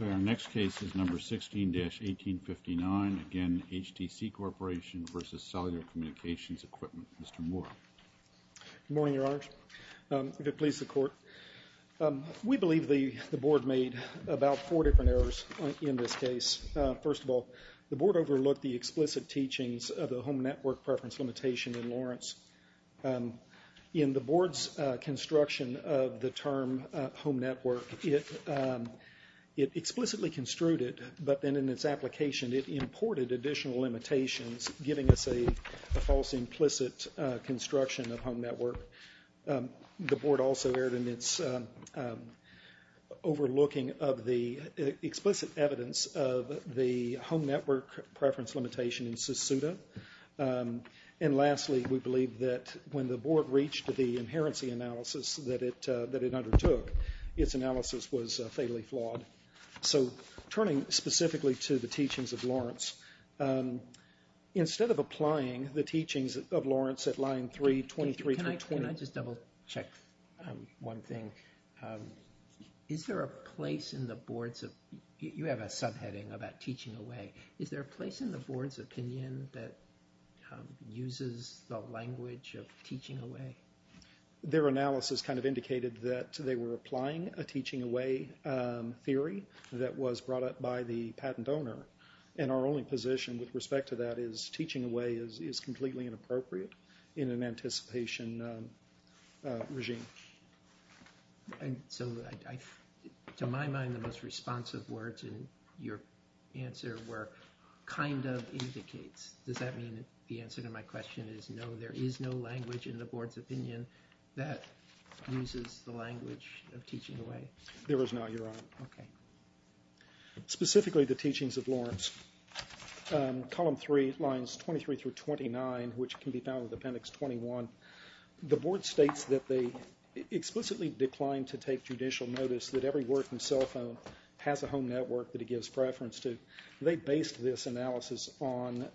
Our next case is number 16-1859, again HTC Corporation v. Cellular Communications Equipment. Mr. Moore. Good morning, Your Honors. If it pleases the Court, we believe the Board made about four different errors in this case. First of all, the Board overlooked the explicit teachings of the Home Network Preference Limitation in Lawrence. In the Board's construction of the term Home Network, it explicitly construed it, but then in its application it imported additional limitations, giving us a false implicit construction of Home Network. The Board also erred in its overlooking of the explicit evidence of the Home Network Preference Limitation in SUSUDA. And lastly, we believe that when the Board reached the inherency analysis that it undertook, its analysis was fatally flawed. So, turning specifically to the teachings of Lawrence, instead of applying the teachings of Lawrence at line 3, 23-20... Can I just double check one thing? Is there a place in the Board's... You have a subheading about teaching away. Is there a place in the Board's opinion that uses the language of teaching away? Their analysis kind of indicated that they were applying a teaching away theory that was brought up by the patent owner. And our only position with respect to that is teaching away is completely inappropriate in an anticipation regime. So, to my mind, the most responsive words in your answer were, kind of indicates. Does that mean the answer to my question is no, there is no language in the Board's opinion that uses the language of teaching away? There is not, Your Honor. Okay. Specifically, the teachings of Lawrence, column 3, lines 23-29, which can be found in appendix 21. The Board states that they explicitly declined to take judicial notice that every working cell phone has a home network that it gives preference to. They based this analysis on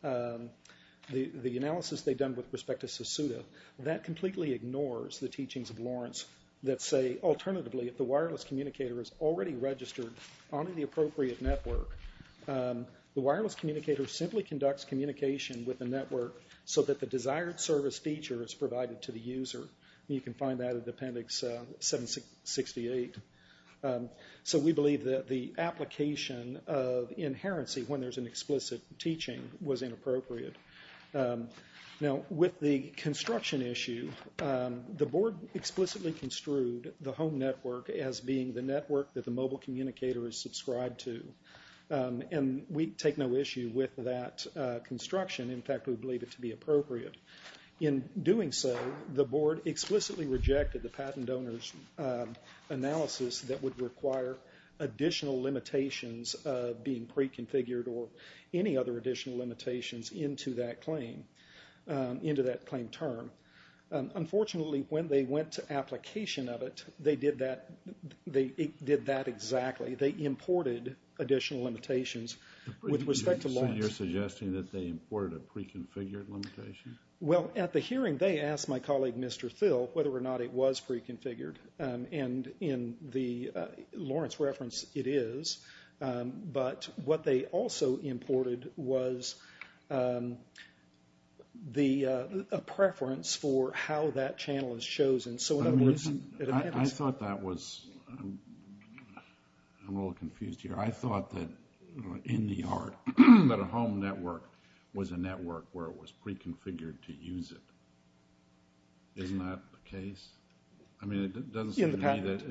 the analysis they'd done with respect to Susuta. That completely ignores the teachings of Lawrence that say, alternatively, if the wireless communicator is already registered onto the appropriate network, the wireless communicator simply conducts communication with the network so that the desired service feature is provided to the user. You can find that in appendix 768. So we believe that the application of inherency when there's an explicit teaching was inappropriate. Now, with the construction issue, the Board explicitly construed the home network as being the network that the mobile communicator is subscribed to. And we take no issue with that construction. In fact, we believe it to be appropriate. In doing so, the Board explicitly rejected the patent donor's analysis that would require additional limitations of being pre-configured or any other additional limitations into that claim, into that claim term. Unfortunately, when they went to application of it, they did that exactly. They imported additional limitations with respect to Lawrence. So you're suggesting that they imported a pre-configured limitation? Well, at the hearing, they asked my colleague, Mr. Phil, whether or not it was pre-configured. And in the Lawrence reference, it is. But what they also imported was a preference for how that channel is chosen. I thought that was, I'm a little confused here. I thought that in the art, that a home network was a network where it was pre-configured to use it. Isn't that the case? I mean, it doesn't seem to me that,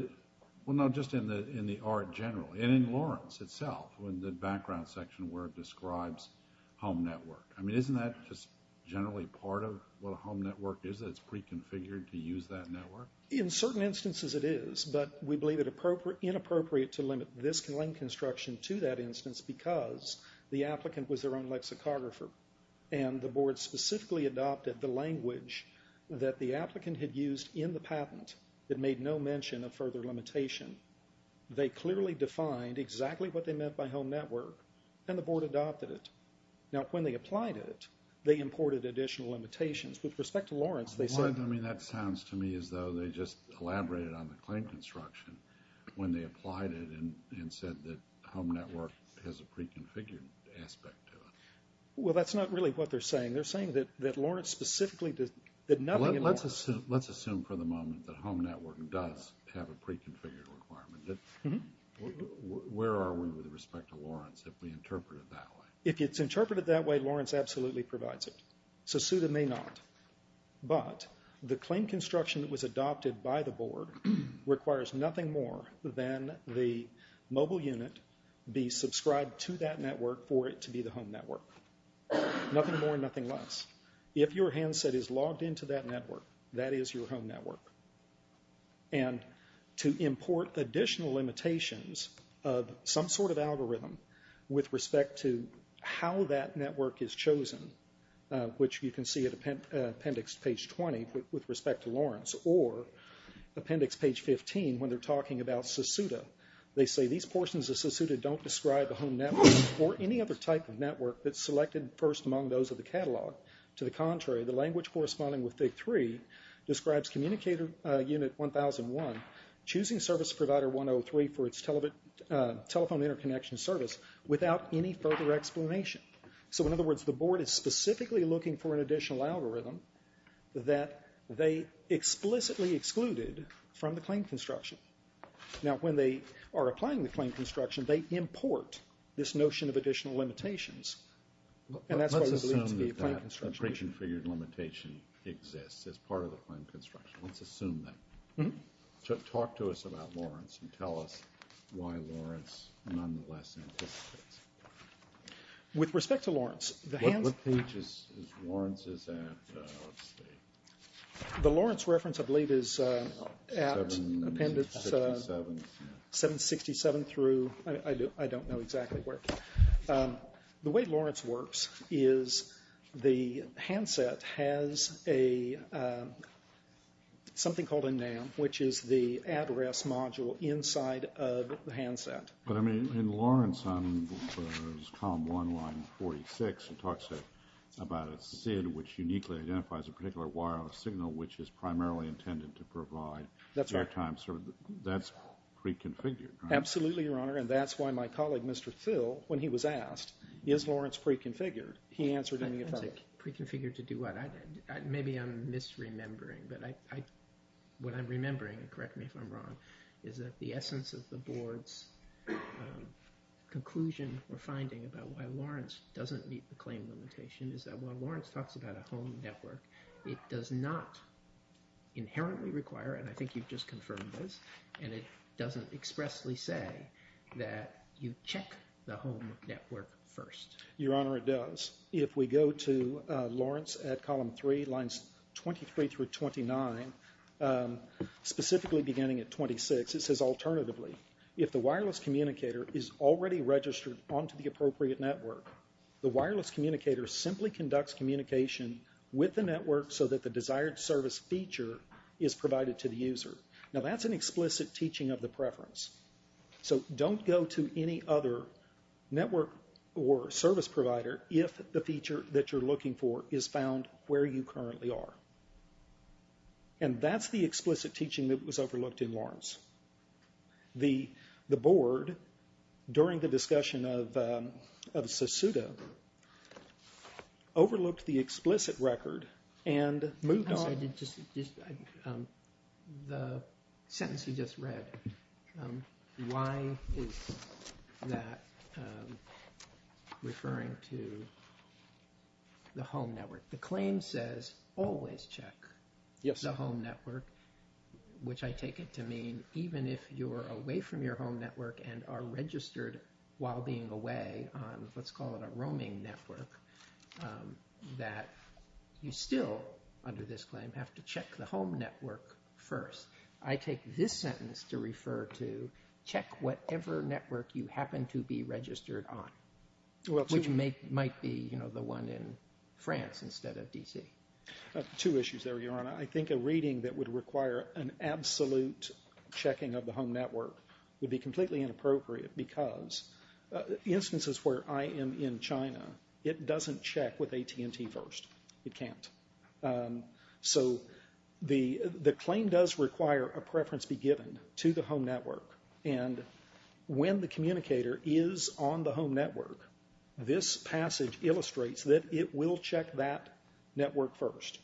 well, no, just in the art generally. And in Lawrence itself, in the background section where it describes home network. I mean, isn't that just generally part of what a home network is, that it's pre-configured to use that network? In certain instances, it is. But we believe it inappropriate to limit this claim construction to that instance because the applicant was their own lexicographer. And the board specifically adopted the language that the applicant had used in the patent that made no mention of further limitation. They clearly defined exactly what they meant by home network, and the board adopted it. Now, when they applied it, they imported additional limitations. With respect to Lawrence, they said... I mean, that sounds to me as though they just elaborated on the claim construction when they applied it and said that home network has a pre-configured aspect to it. Well, that's not really what they're saying. They're saying that Lawrence specifically did nothing... Let's assume for the moment that home network does have a pre-configured requirement. Where are we with respect to Lawrence if we interpret it that way? If it's interpreted that way, Lawrence absolutely provides it. Susuta may not. But the claim construction that was adopted by the board requires nothing more than the mobile unit be subscribed to that network for it to be the home network. Nothing more, nothing less. If your handset is logged into that network, that is your home network. And to import additional limitations of some sort of algorithm with respect to how that network is chosen, which you can see at appendix page 20 with respect to Lawrence or appendix page 15 when they're talking about Susuta, they say these portions of Susuta don't describe a home network or any other type of network that's selected first among those of the catalog. To the contrary, the language corresponding with Fig. 3 describes communicator unit 1001 choosing service provider 103 for its telephone interconnection service without any further explanation. So in other words, the board is specifically looking for an additional algorithm that they explicitly excluded from the claim construction. Now, when they are applying the claim construction, they import this notion of additional limitations. And that's why we believe it to be a claim construction issue. Let's assume that that pre-configured limitation exists as part of the claim construction. Let's assume that. Talk to us about Lawrence and tell us why Lawrence nonetheless anticipates. With respect to Lawrence, the hands... What page is Lawrence at? The Lawrence reference, I believe, is at appendix 767 through... I don't know exactly where. The way Lawrence works is the handset has something called a NAM, which is the address module inside of the handset. But, I mean, in Lawrence, on column 1146, it talks about a SID, which uniquely identifies a particular wireless signal, which is primarily intended to provide... That's right. ...airtime, so that's pre-configured, right? Absolutely, Your Honor, and that's why my colleague, Mr. Thill, when he was asked, is Lawrence pre-configured, he answered in the affirmative. Pre-configured to do what? Maybe I'm misremembering, but what I'm remembering, and correct me if I'm wrong, is that the essence of the Board's conclusion or finding about why Lawrence doesn't meet the claim limitation is that while Lawrence talks about a home network, it does not inherently require, and I think you've just confirmed this, and it doesn't expressly say that you check the home network first. Your Honor, it does. If we go to Lawrence at column 3, lines 23 through 29, specifically beginning at 26, it says, alternatively, if the wireless communicator is already registered onto the appropriate network, the wireless communicator simply conducts communication with the network so that the desired service feature is provided to the user. Now, that's an explicit teaching of the preference. So don't go to any other network or service provider if the feature that you're looking for is found where you currently are. And that's the explicit teaching that was overlooked in Lawrence. The Board, during the discussion of Susuto, overlooked the explicit record and moved on. The sentence you just read, why is that referring to the home network? The claim says always check the home network, which I take it to mean even if you're away from your home network and are registered while being away on, let's call it a roaming network, that you still, under this claim, have to check the home network first. I take this sentence to refer to check whatever network you happen to be registered on, which might be, you know, the one in France instead of D.C. Two issues there, Your Honor. I think a reading that would require an absolute checking of the home network would be completely inappropriate because instances where I am in China, it doesn't check with AT&T first. It can't. So the claim does require a preference be given to the home network. And when the communicator is on the home network, this passage illustrates that it will check that network first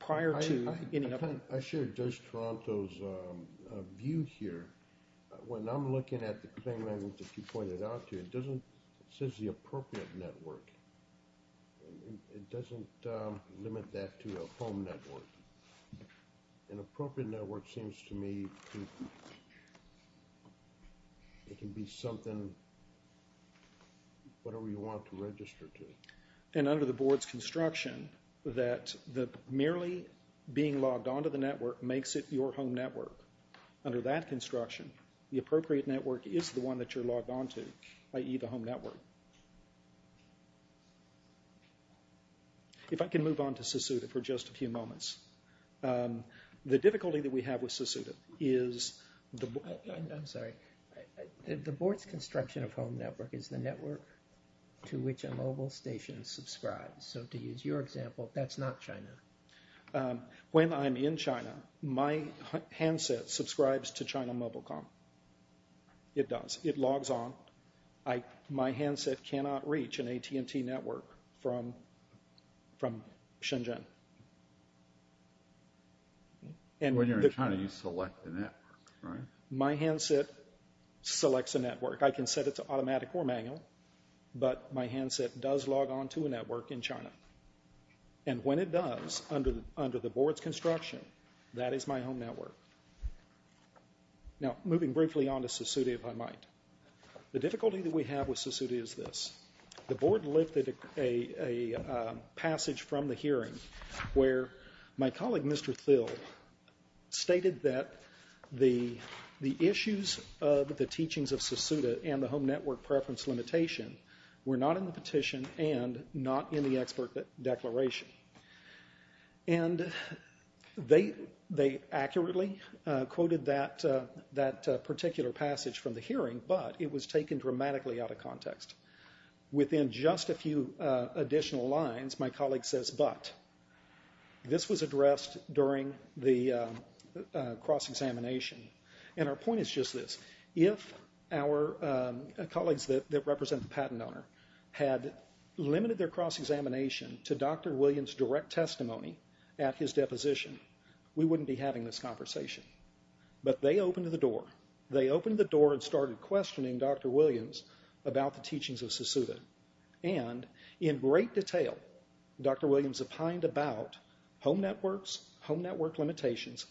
prior to any other. I share Judge Toronto's view here. When I'm looking at the claim that you pointed out to, it doesn't say the appropriate network. It doesn't limit that to a home network. An appropriate network seems to me it can be something, whatever you want to register to. And under the board's construction that merely being logged onto the network makes it your home network. Under that construction, the appropriate network is the one that you're logged onto. I.e., the home network. If I can move on to Susuta for just a few moments. The difficulty that we have with Susuta is the board's construction of home network is the network to which a mobile station subscribes. So to use your example, that's not China. When I'm in China, my handset subscribes to China MobileCom. It does. It logs on. My handset cannot reach an AT&T network from Shenzhen. When you're in China, you select the network, right? My handset selects a network. I can set it to automatic or manual, but my handset does log on to a network in China. And when it does, under the board's construction, that is my home network. Now, moving briefly on to Susuta, if I might. The difficulty that we have with Susuta is this. The board lifted a passage from the hearing where my colleague, Mr. Thill, stated that the issues of the teachings of Susuta and the home network preference limitation were not in the petition and not in the expert declaration. And they accurately quoted that particular passage from the hearing, but it was taken dramatically out of context. Within just a few additional lines, my colleague says, but this was addressed during the cross-examination. And our point is just this. If our colleagues that represent the patent owner had limited their cross-examination to Dr. Williams' direct testimony at his deposition, we wouldn't be having this conversation. But they opened the door. They opened the door and started questioning Dr. Williams about the teachings of Susuta. And in great detail, Dr. Williams opined about home networks, home network limitations,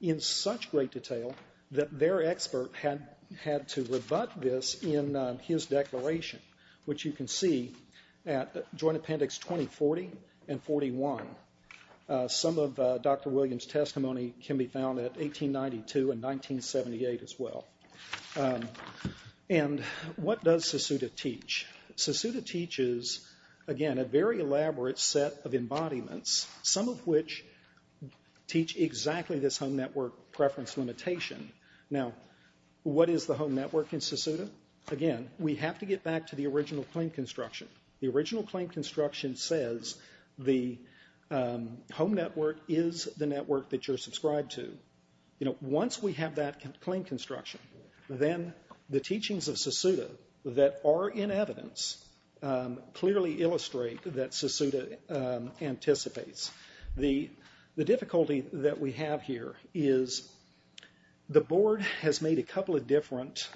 in such great detail that their expert had to rebut this in his declaration, which you can see at Joint Appendix 2040 and 41. Some of Dr. Williams' testimony can be found at 1892 and 1978 as well. And what does Susuta teach? Susuta teaches, again, a very elaborate set of embodiments, some of which teach exactly this home network preference limitation. Now, what is the home network in Susuta? Again, we have to get back to the original claim construction. The original claim construction says the home network is the network that you're subscribed to. Once we have that claim construction, then the teachings of Susuta that are in evidence clearly illustrate that Susuta anticipates. The difficulty that we have here is the board has made a couple of different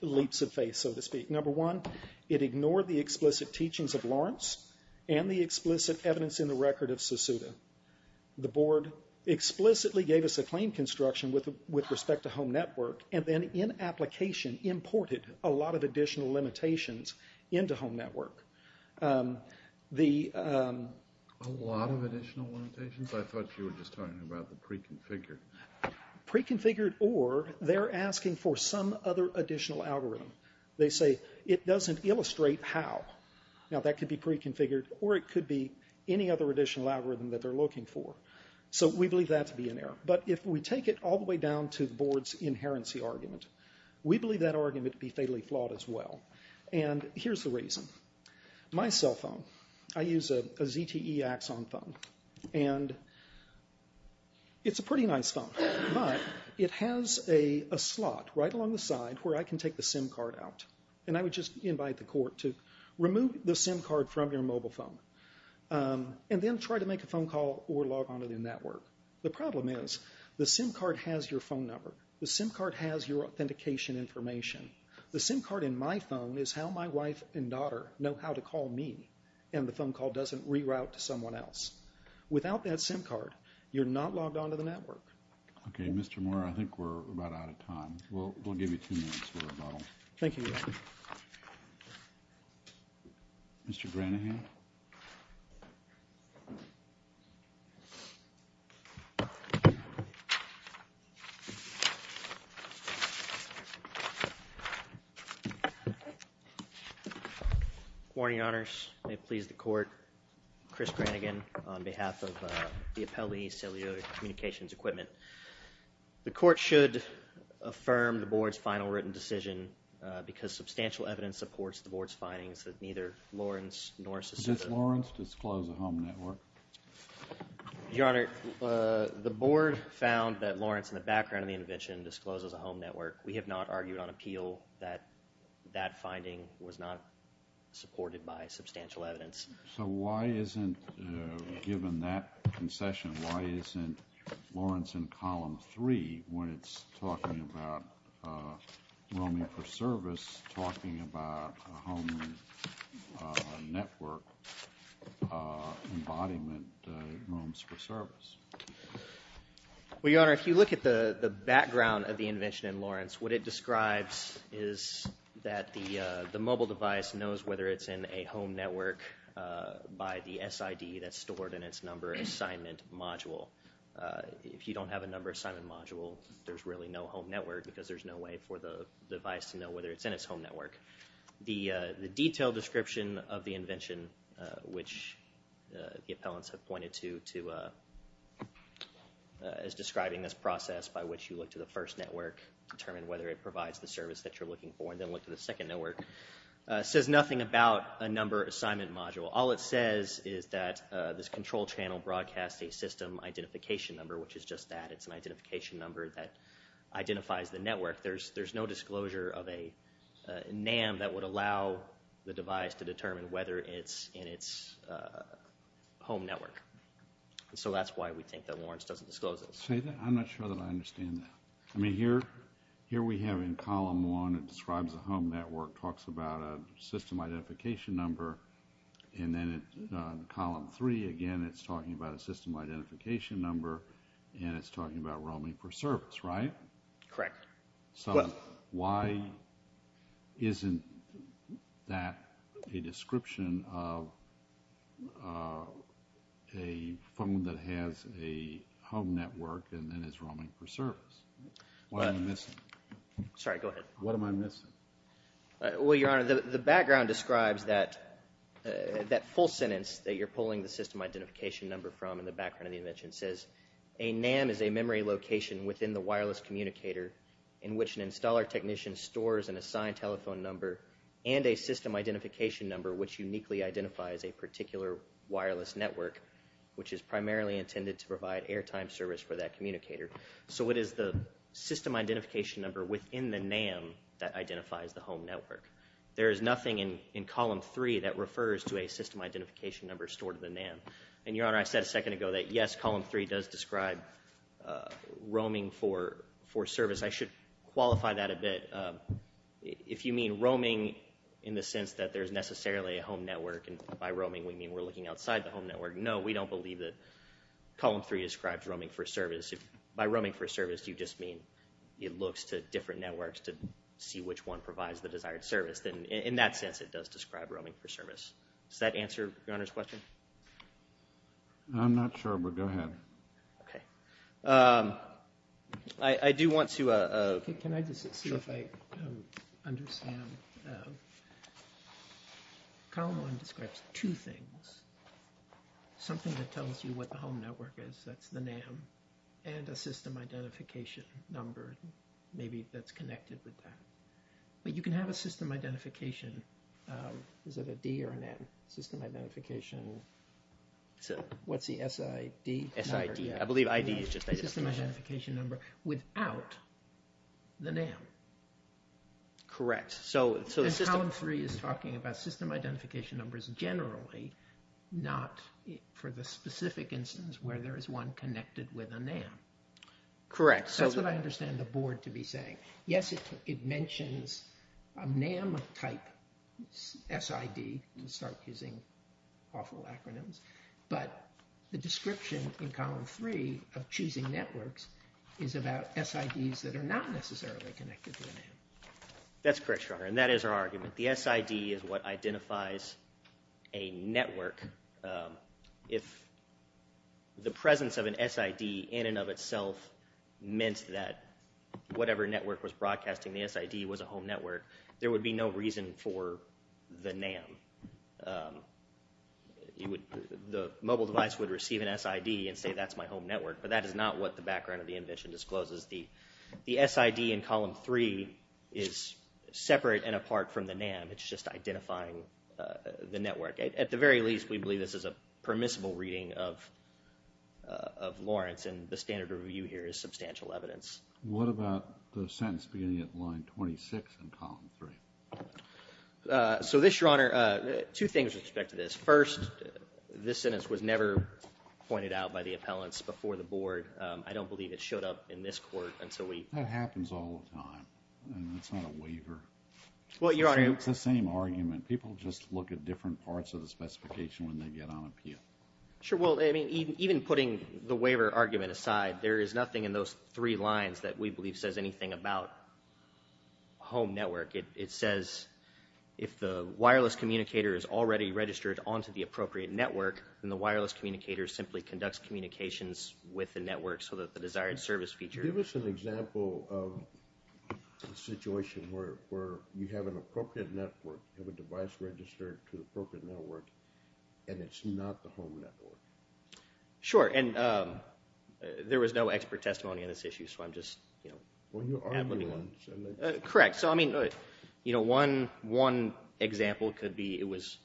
leaps of faith, so to speak. Number one, it ignored the explicit teachings of Lawrence and the explicit evidence in the record of Susuta. The board explicitly gave us a claim construction with respect to home network and then in application imported a lot of additional limitations into home network. A lot of additional limitations? I thought you were just talking about the pre-configured. Pre-configured or they're asking for some other additional algorithm. They say it doesn't illustrate how. Now, that could be pre-configured or it could be any other additional algorithm that they're looking for. So we believe that to be an error. But if we take it all the way down to the board's inherency argument, we believe that argument to be fatally flawed as well. And here's the reason. My cell phone, I use a ZTE Axon phone, and it's a pretty nice phone. But it has a slot right along the side where I can take the SIM card out. And I would just invite the court to remove the SIM card from your mobile phone and then try to make a phone call or log on to the network. The problem is the SIM card has your phone number. The SIM card has your authentication information. The SIM card in my phone is how my wife and daughter know how to call me, and the phone call doesn't reroute to someone else. Without that SIM card, you're not logged on to the network. Okay, Mr. Moore, I think we're about out of time. We'll give you two minutes for a bottle. Thank you, Your Honor. Mr. Granahan? Good morning, Your Honors. May it please the court, Chris Granahan, on behalf of the Appellee Cellular Communications Equipment. The court should affirm the Board's final written decision because substantial evidence supports the Board's findings that neither Lawrence nor Susita. Did Lawrence disclose a home network? Your Honor, the Board found that Lawrence, in the background of the intervention, discloses a home network. We have not argued on appeal that that finding was not supported by substantial evidence. So why isn't, given that concession, why isn't Lawrence in Column 3 when it's talking about roaming for service talking about a home network embodiment of roams for service? Well, Your Honor, if you look at the background of the intervention in Lawrence, what it describes is that the mobile device knows whether it's in a home network by the SID that's stored in its number assignment module. If you don't have a number assignment module, there's really no home network because there's no way for the device to know whether it's in its home network. The detailed description of the intervention, which the appellants have pointed to, is describing this process by which you look to the first network, determine whether it provides the service that you're looking for, and then look to the second network, says nothing about a number assignment module. All it says is that this control channel broadcasts a system identification number, which is just that. It's an identification number that identifies the network. There's no disclosure of a NAM that would allow the device to determine whether it's in its home network. So that's why we think that Lawrence doesn't disclose it. I'm not sure that I understand that. I mean, here we have in column 1, it describes a home network, talks about a system identification number, and then in column 3, again, it's talking about a system identification number, and it's talking about roaming for service, right? Correct. So why isn't that a description of a phone that has a home network and then is roaming for service? What am I missing? Sorry, go ahead. What am I missing? Well, Your Honor, the background describes that full sentence that you're pulling the system identification number from in the background of the intervention. It says a NAM is a memory location within the wireless communicator in which an installer technician stores an assigned telephone number and a system identification number which uniquely identifies a particular wireless network, which is primarily intended to provide airtime service for that communicator. So it is the system identification number within the NAM that identifies the home network. There is nothing in column 3 that refers to a system identification number stored in the NAM. And, Your Honor, I said a second ago that, yes, column 3 does describe roaming for service. I should qualify that a bit. If you mean roaming in the sense that there's necessarily a home network and by roaming we mean we're looking outside the home network, no, we don't believe that column 3 describes roaming for service. By roaming for service, you just mean it looks to different networks to see which one provides the desired service. In that sense, it does describe roaming for service. Does that answer Your Honor's question? I'm not sure, but go ahead. Okay. I do want to... Can I just see if I understand? Column 1 describes two things, something that tells you what the home network is, that's the NAM, and a system identification number maybe that's connected with that. But you can have a system identification, is it a D or a NAM? System identification, what's the SID? SID, I believe ID is just identification. System identification number without the NAM. Correct. And column 3 is talking about system identification numbers generally, not for the specific instance where there is one connected with a NAM. Correct. That's what I understand the board to be saying. Yes, it mentions a NAM-type SID, to start using awful acronyms, but the description in column 3 of choosing networks is about SIDs that are not necessarily connected to a NAM. That's correct, Your Honor, and that is our argument. The SID is what identifies a network. If the presence of an SID in and of itself meant that whatever network was broadcasting the SID was a home network, there would be no reason for the NAM. The mobile device would receive an SID and say that's my home network, but that is not what the background of the invention discloses. The SID in column 3 is separate and apart from the NAM. It's just identifying the network. At the very least, we believe this is a permissible reading of Lawrence, and the standard review here is substantial evidence. What about the sentence beginning at line 26 in column 3? So this, Your Honor, two things with respect to this. First, this sentence was never pointed out by the appellants before the board. I don't believe it showed up in this court until we— That happens all the time, and it's not a waiver. Well, Your Honor— It's the same argument. People just look at different parts of the specification when they get on appeal. Sure. Well, even putting the waiver argument aside, there is nothing in those three lines that we believe says anything about home network. It says if the wireless communicator is already registered onto the appropriate network, then the wireless communicator simply conducts communications with the network so that the desired service feature— Give us an example of a situation where you have an appropriate network, have a device registered to the appropriate network, and it's not the home network. Sure, and there was no expert testimony on this issue, so I'm just— Well, you argued on it. Correct. So, I mean, one example could be it was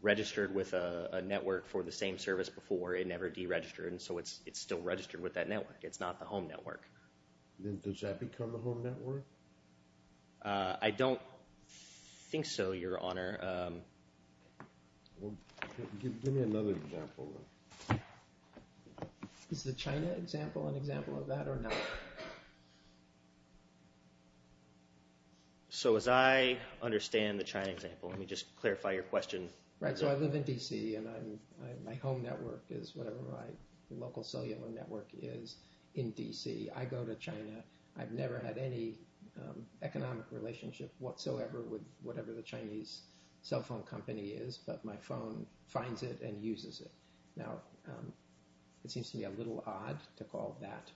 registered with a network for the same service before. It never deregistered, and so it's still registered with that network. It's not the home network. Then does that become the home network? I don't think so, Your Honor. Give me another example. Is the China example an example of that or not? So as I understand the China example, let me just clarify your question. Right, so I live in D.C., and my home network is whatever my local cellular network is in D.C. I go to China. I've never had any economic relationship whatsoever with whatever the Chinese cell phone company is, but my phone finds it and uses it. Now, it seems to me a little odd to call that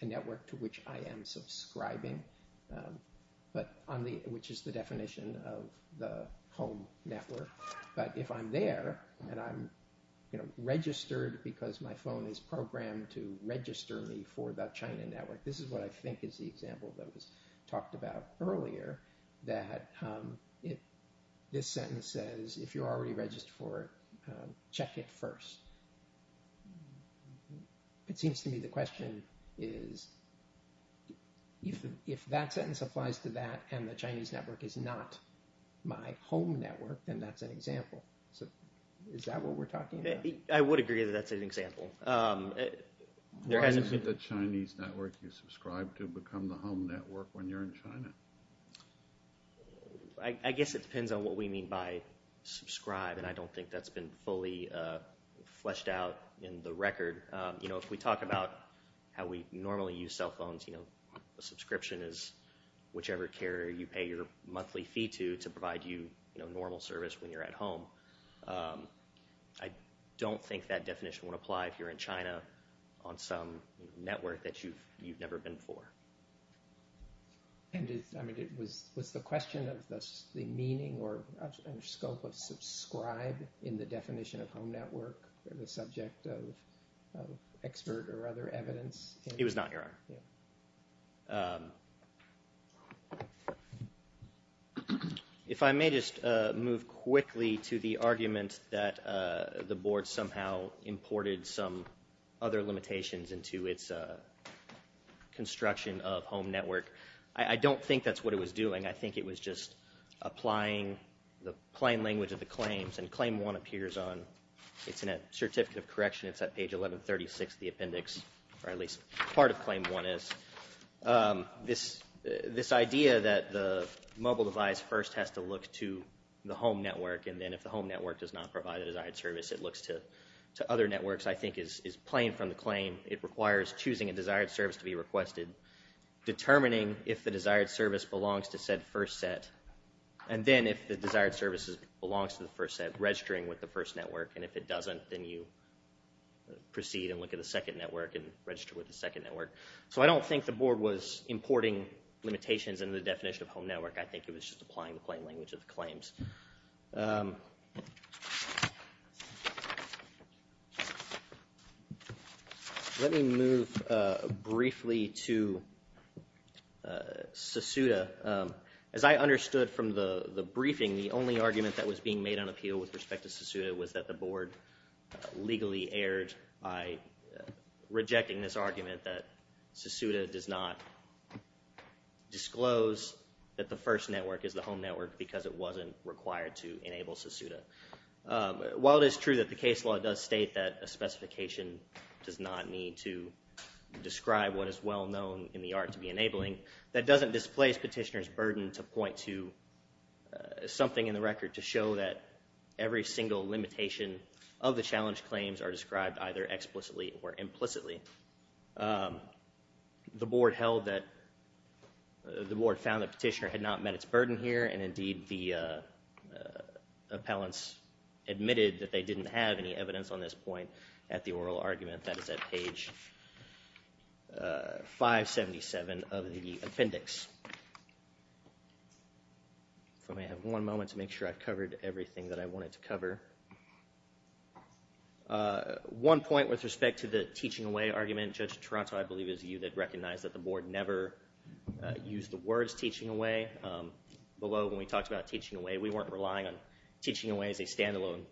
a network to which I am subscribing, which is the definition of the home network. But if I'm there and I'm registered because my phone is programmed to register me for the China network, this is what I think is the example that was talked about earlier, that this sentence says, if you're already registered for it, check it first. It seems to me the question is if that sentence applies to that and the Chinese network is not my home network, then that's an example. Is that what we're talking about? I would agree that that's an example. Why is it the Chinese network you subscribe to become the home network when you're in China? I guess it depends on what we mean by subscribe, and I don't think that's been fully fleshed out in the record. If we talk about how we normally use cell phones, a subscription is whichever carrier you pay your monthly fee to to provide you normal service when you're at home. I don't think that definition would apply if you're in China on some network that you've never been for. I mean, was the question of the meaning or scope of subscribe in the definition of home network the subject of expert or other evidence? It was not, Your Honor. If I may just move quickly to the argument that the board somehow imported some other limitations into its construction of home network. I don't think that's what it was doing. I think it was just applying the plain language of the claims, and Claim 1 appears on, it's in a Certificate of Correction. It's at page 1136 of the appendix, or at least part of Claim 1 is. This idea that the mobile device first has to look to the home network, and then if the home network does not provide the desired service, it looks to other networks, I think is plain from the claim. It requires choosing a desired service to be requested, determining if the desired service belongs to said first set, and then if the desired service belongs to the first set, registering with the first network, and if it doesn't, then you proceed and look at the second network and register with the second network. So I don't think the board was importing limitations into the definition of home network. I think it was just applying the plain language of the claims. Let me move briefly to SESUDA. As I understood from the briefing, the only argument that was being made on appeal with respect to SESUDA was that the board legally erred by rejecting this argument that SESUDA does not disclose that the first network is the home network because it wasn't required to enable SESUDA. While it is true that the case law does state that a specification does not need to describe what is well known in the art to be enabling, that doesn't displace petitioner's burden to point to something in the record to show that every single limitation of the challenge claims are described either explicitly or implicitly. The board held that the board found that petitioner had not met its burden here, and indeed the appellants admitted that they didn't have any evidence on this point at the oral argument. That is at page 577 of the appendix. If I may have one moment to make sure I've covered everything that I wanted to cover. One point with respect to the teaching away argument, Judge Toronto, I believe it was you that recognized that the board never used the words teaching away. Below, when we talked about teaching away, we weren't relying on teaching away as a stand-alone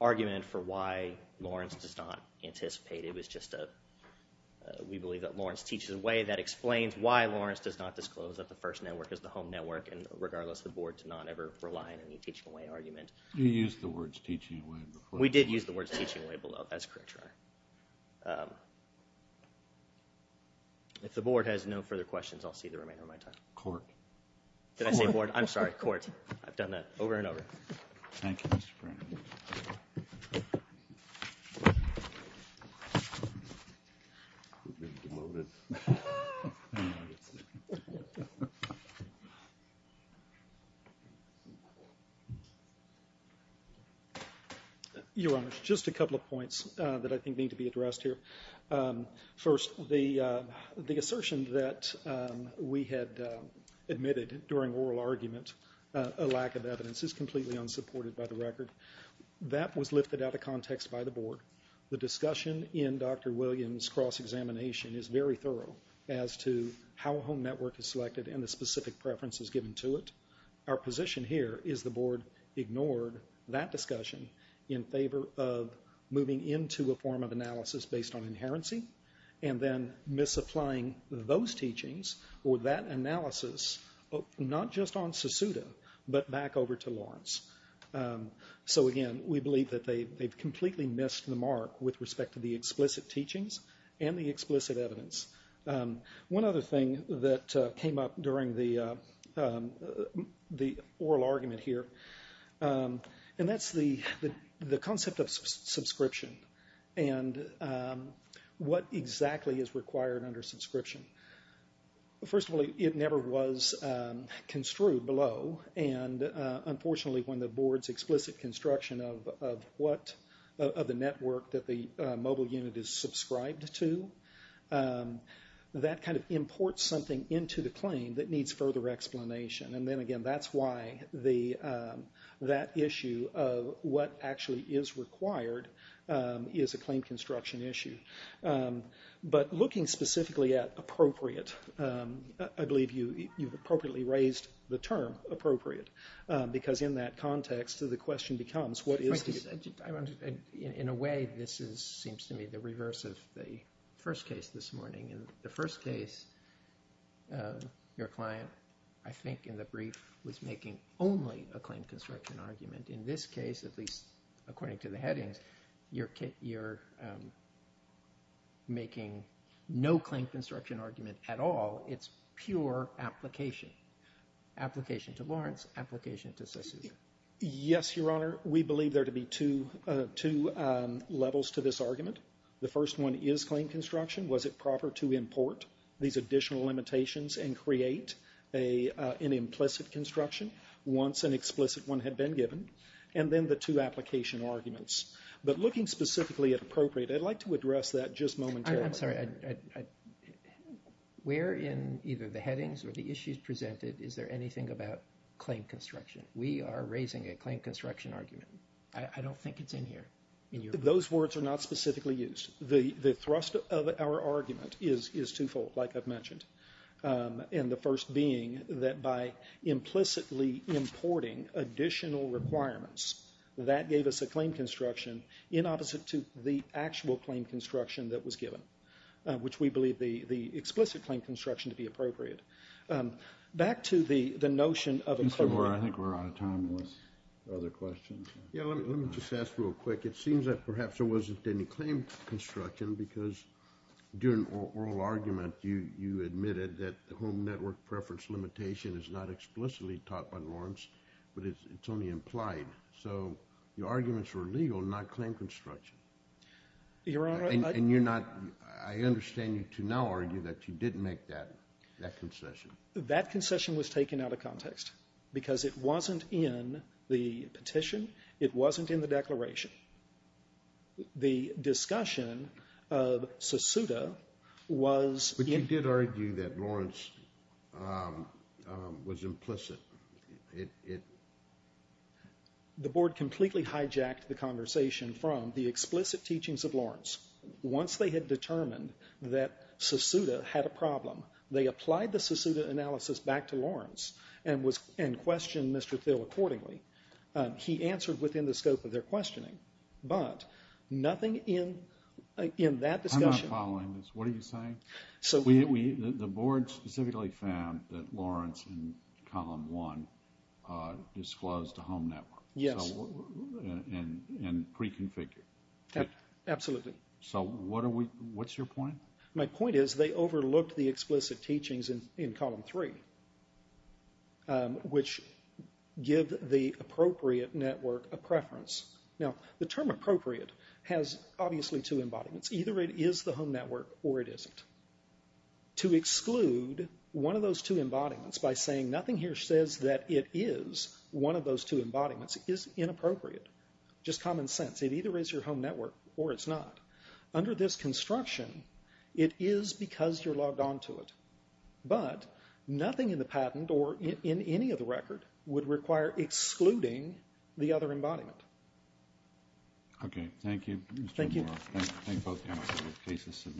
argument for why Lawrence does not anticipate. It was just a, we believe that Lawrence teaches away that explains why Lawrence does not disclose that the first network is the home network, and regardless, the board did not ever rely on any teaching away argument. You used the words teaching away before. We did use the words teaching away below, that's correct, Your Honor. If the board has no further questions, I'll see the remainder of my time. Court. Did I say board? I'm sorry, court. I've done that over and over. Thank you, Mr. Brennan. Your Honor, just a couple of points that I think need to be addressed here. First, the assertion that we had admitted during oral argument, a lack of evidence, is completely unsupported by the record. That was lifted out of context by the board. The discussion in Dr. Williams' cross-examination is very thorough as to how a home network is selected and the specific preferences given to it. Our position here is the board ignored that discussion in favor of moving into a form of analysis based on inherency, and then misapplying those teachings or that analysis, not just on Susuta, but back over to Lawrence. Again, we believe that they've completely missed the mark with respect to the explicit teachings and the explicit evidence. One other thing that came up during the oral argument here, and that's the concept of subscription. What exactly is required under subscription? First of all, it never was construed below. Unfortunately, when the board's explicit construction of the network that the mobile unit is subscribed to, that imports something into the claim that needs further explanation. Then again, that's why that issue of what actually is required is a claim construction issue. But looking specifically at appropriate, I believe you've appropriately raised the term appropriate, because in that context, the question becomes what is the... In a way, this seems to me the reverse of the first case this morning. In the first case, your client, I think in the brief, was making only a claim construction argument. In this case, at least according to the headings, you're making no claim construction argument at all. It's pure application. Application to Lawrence, application to Susuta. Yes, Your Honor. We believe there to be two levels to this argument. The first one is claim construction. Was it proper to import these additional limitations and create an implicit construction once an explicit one had been given? And then the two application arguments. But looking specifically at appropriate, I'd like to address that just momentarily. I'm sorry. Where in either the headings or the issues presented, is there anything about claim construction? We are raising a claim construction argument. I don't think it's in here. Those words are not specifically used. The thrust of our argument is twofold, like I've mentioned, and the first being that by implicitly importing additional requirements, that gave us a claim construction in opposite to the actual claim construction that was given, which we believe the explicit claim construction to be appropriate. Back to the notion of a... I think we're out of time with other questions. Yeah, let me just ask real quick. It seems that perhaps there wasn't any claim construction because during oral argument you admitted that the home network preference limitation is not explicitly taught by norms, but it's only implied. So your arguments were legal, not claim construction. Your Honor, I... And you're not... I understand you to now argue that you didn't make that concession. That concession was taken out of context because it wasn't in the petition. It wasn't in the declaration. The discussion of Susuda was... But you did argue that Lawrence was implicit. The board completely hijacked the conversation from the explicit teachings of Lawrence. Once they had determined that Susuda had a problem, they applied the Susuda analysis back to Lawrence and questioned Mr. Thill accordingly. He answered within the scope of their questioning. But nothing in that discussion... I'm not following this. What are you saying? The board specifically found that Lawrence in column one disclosed the home network. Yes. And preconfigured. Absolutely. So what's your point? My point is they overlooked the explicit teachings in column three, which give the appropriate network a preference. Now, the term appropriate has obviously two embodiments. Either it is the home network or it isn't. To exclude one of those two embodiments by saying nothing here says that it is one of those two embodiments is inappropriate. Just common sense. It either is your home network or it's not. Under this construction, it is because you're logged on to it. But nothing in the patent or in any of the record would require excluding the other embodiment. Okay. Thank you, Mr. Moore. Thank you. Thank you.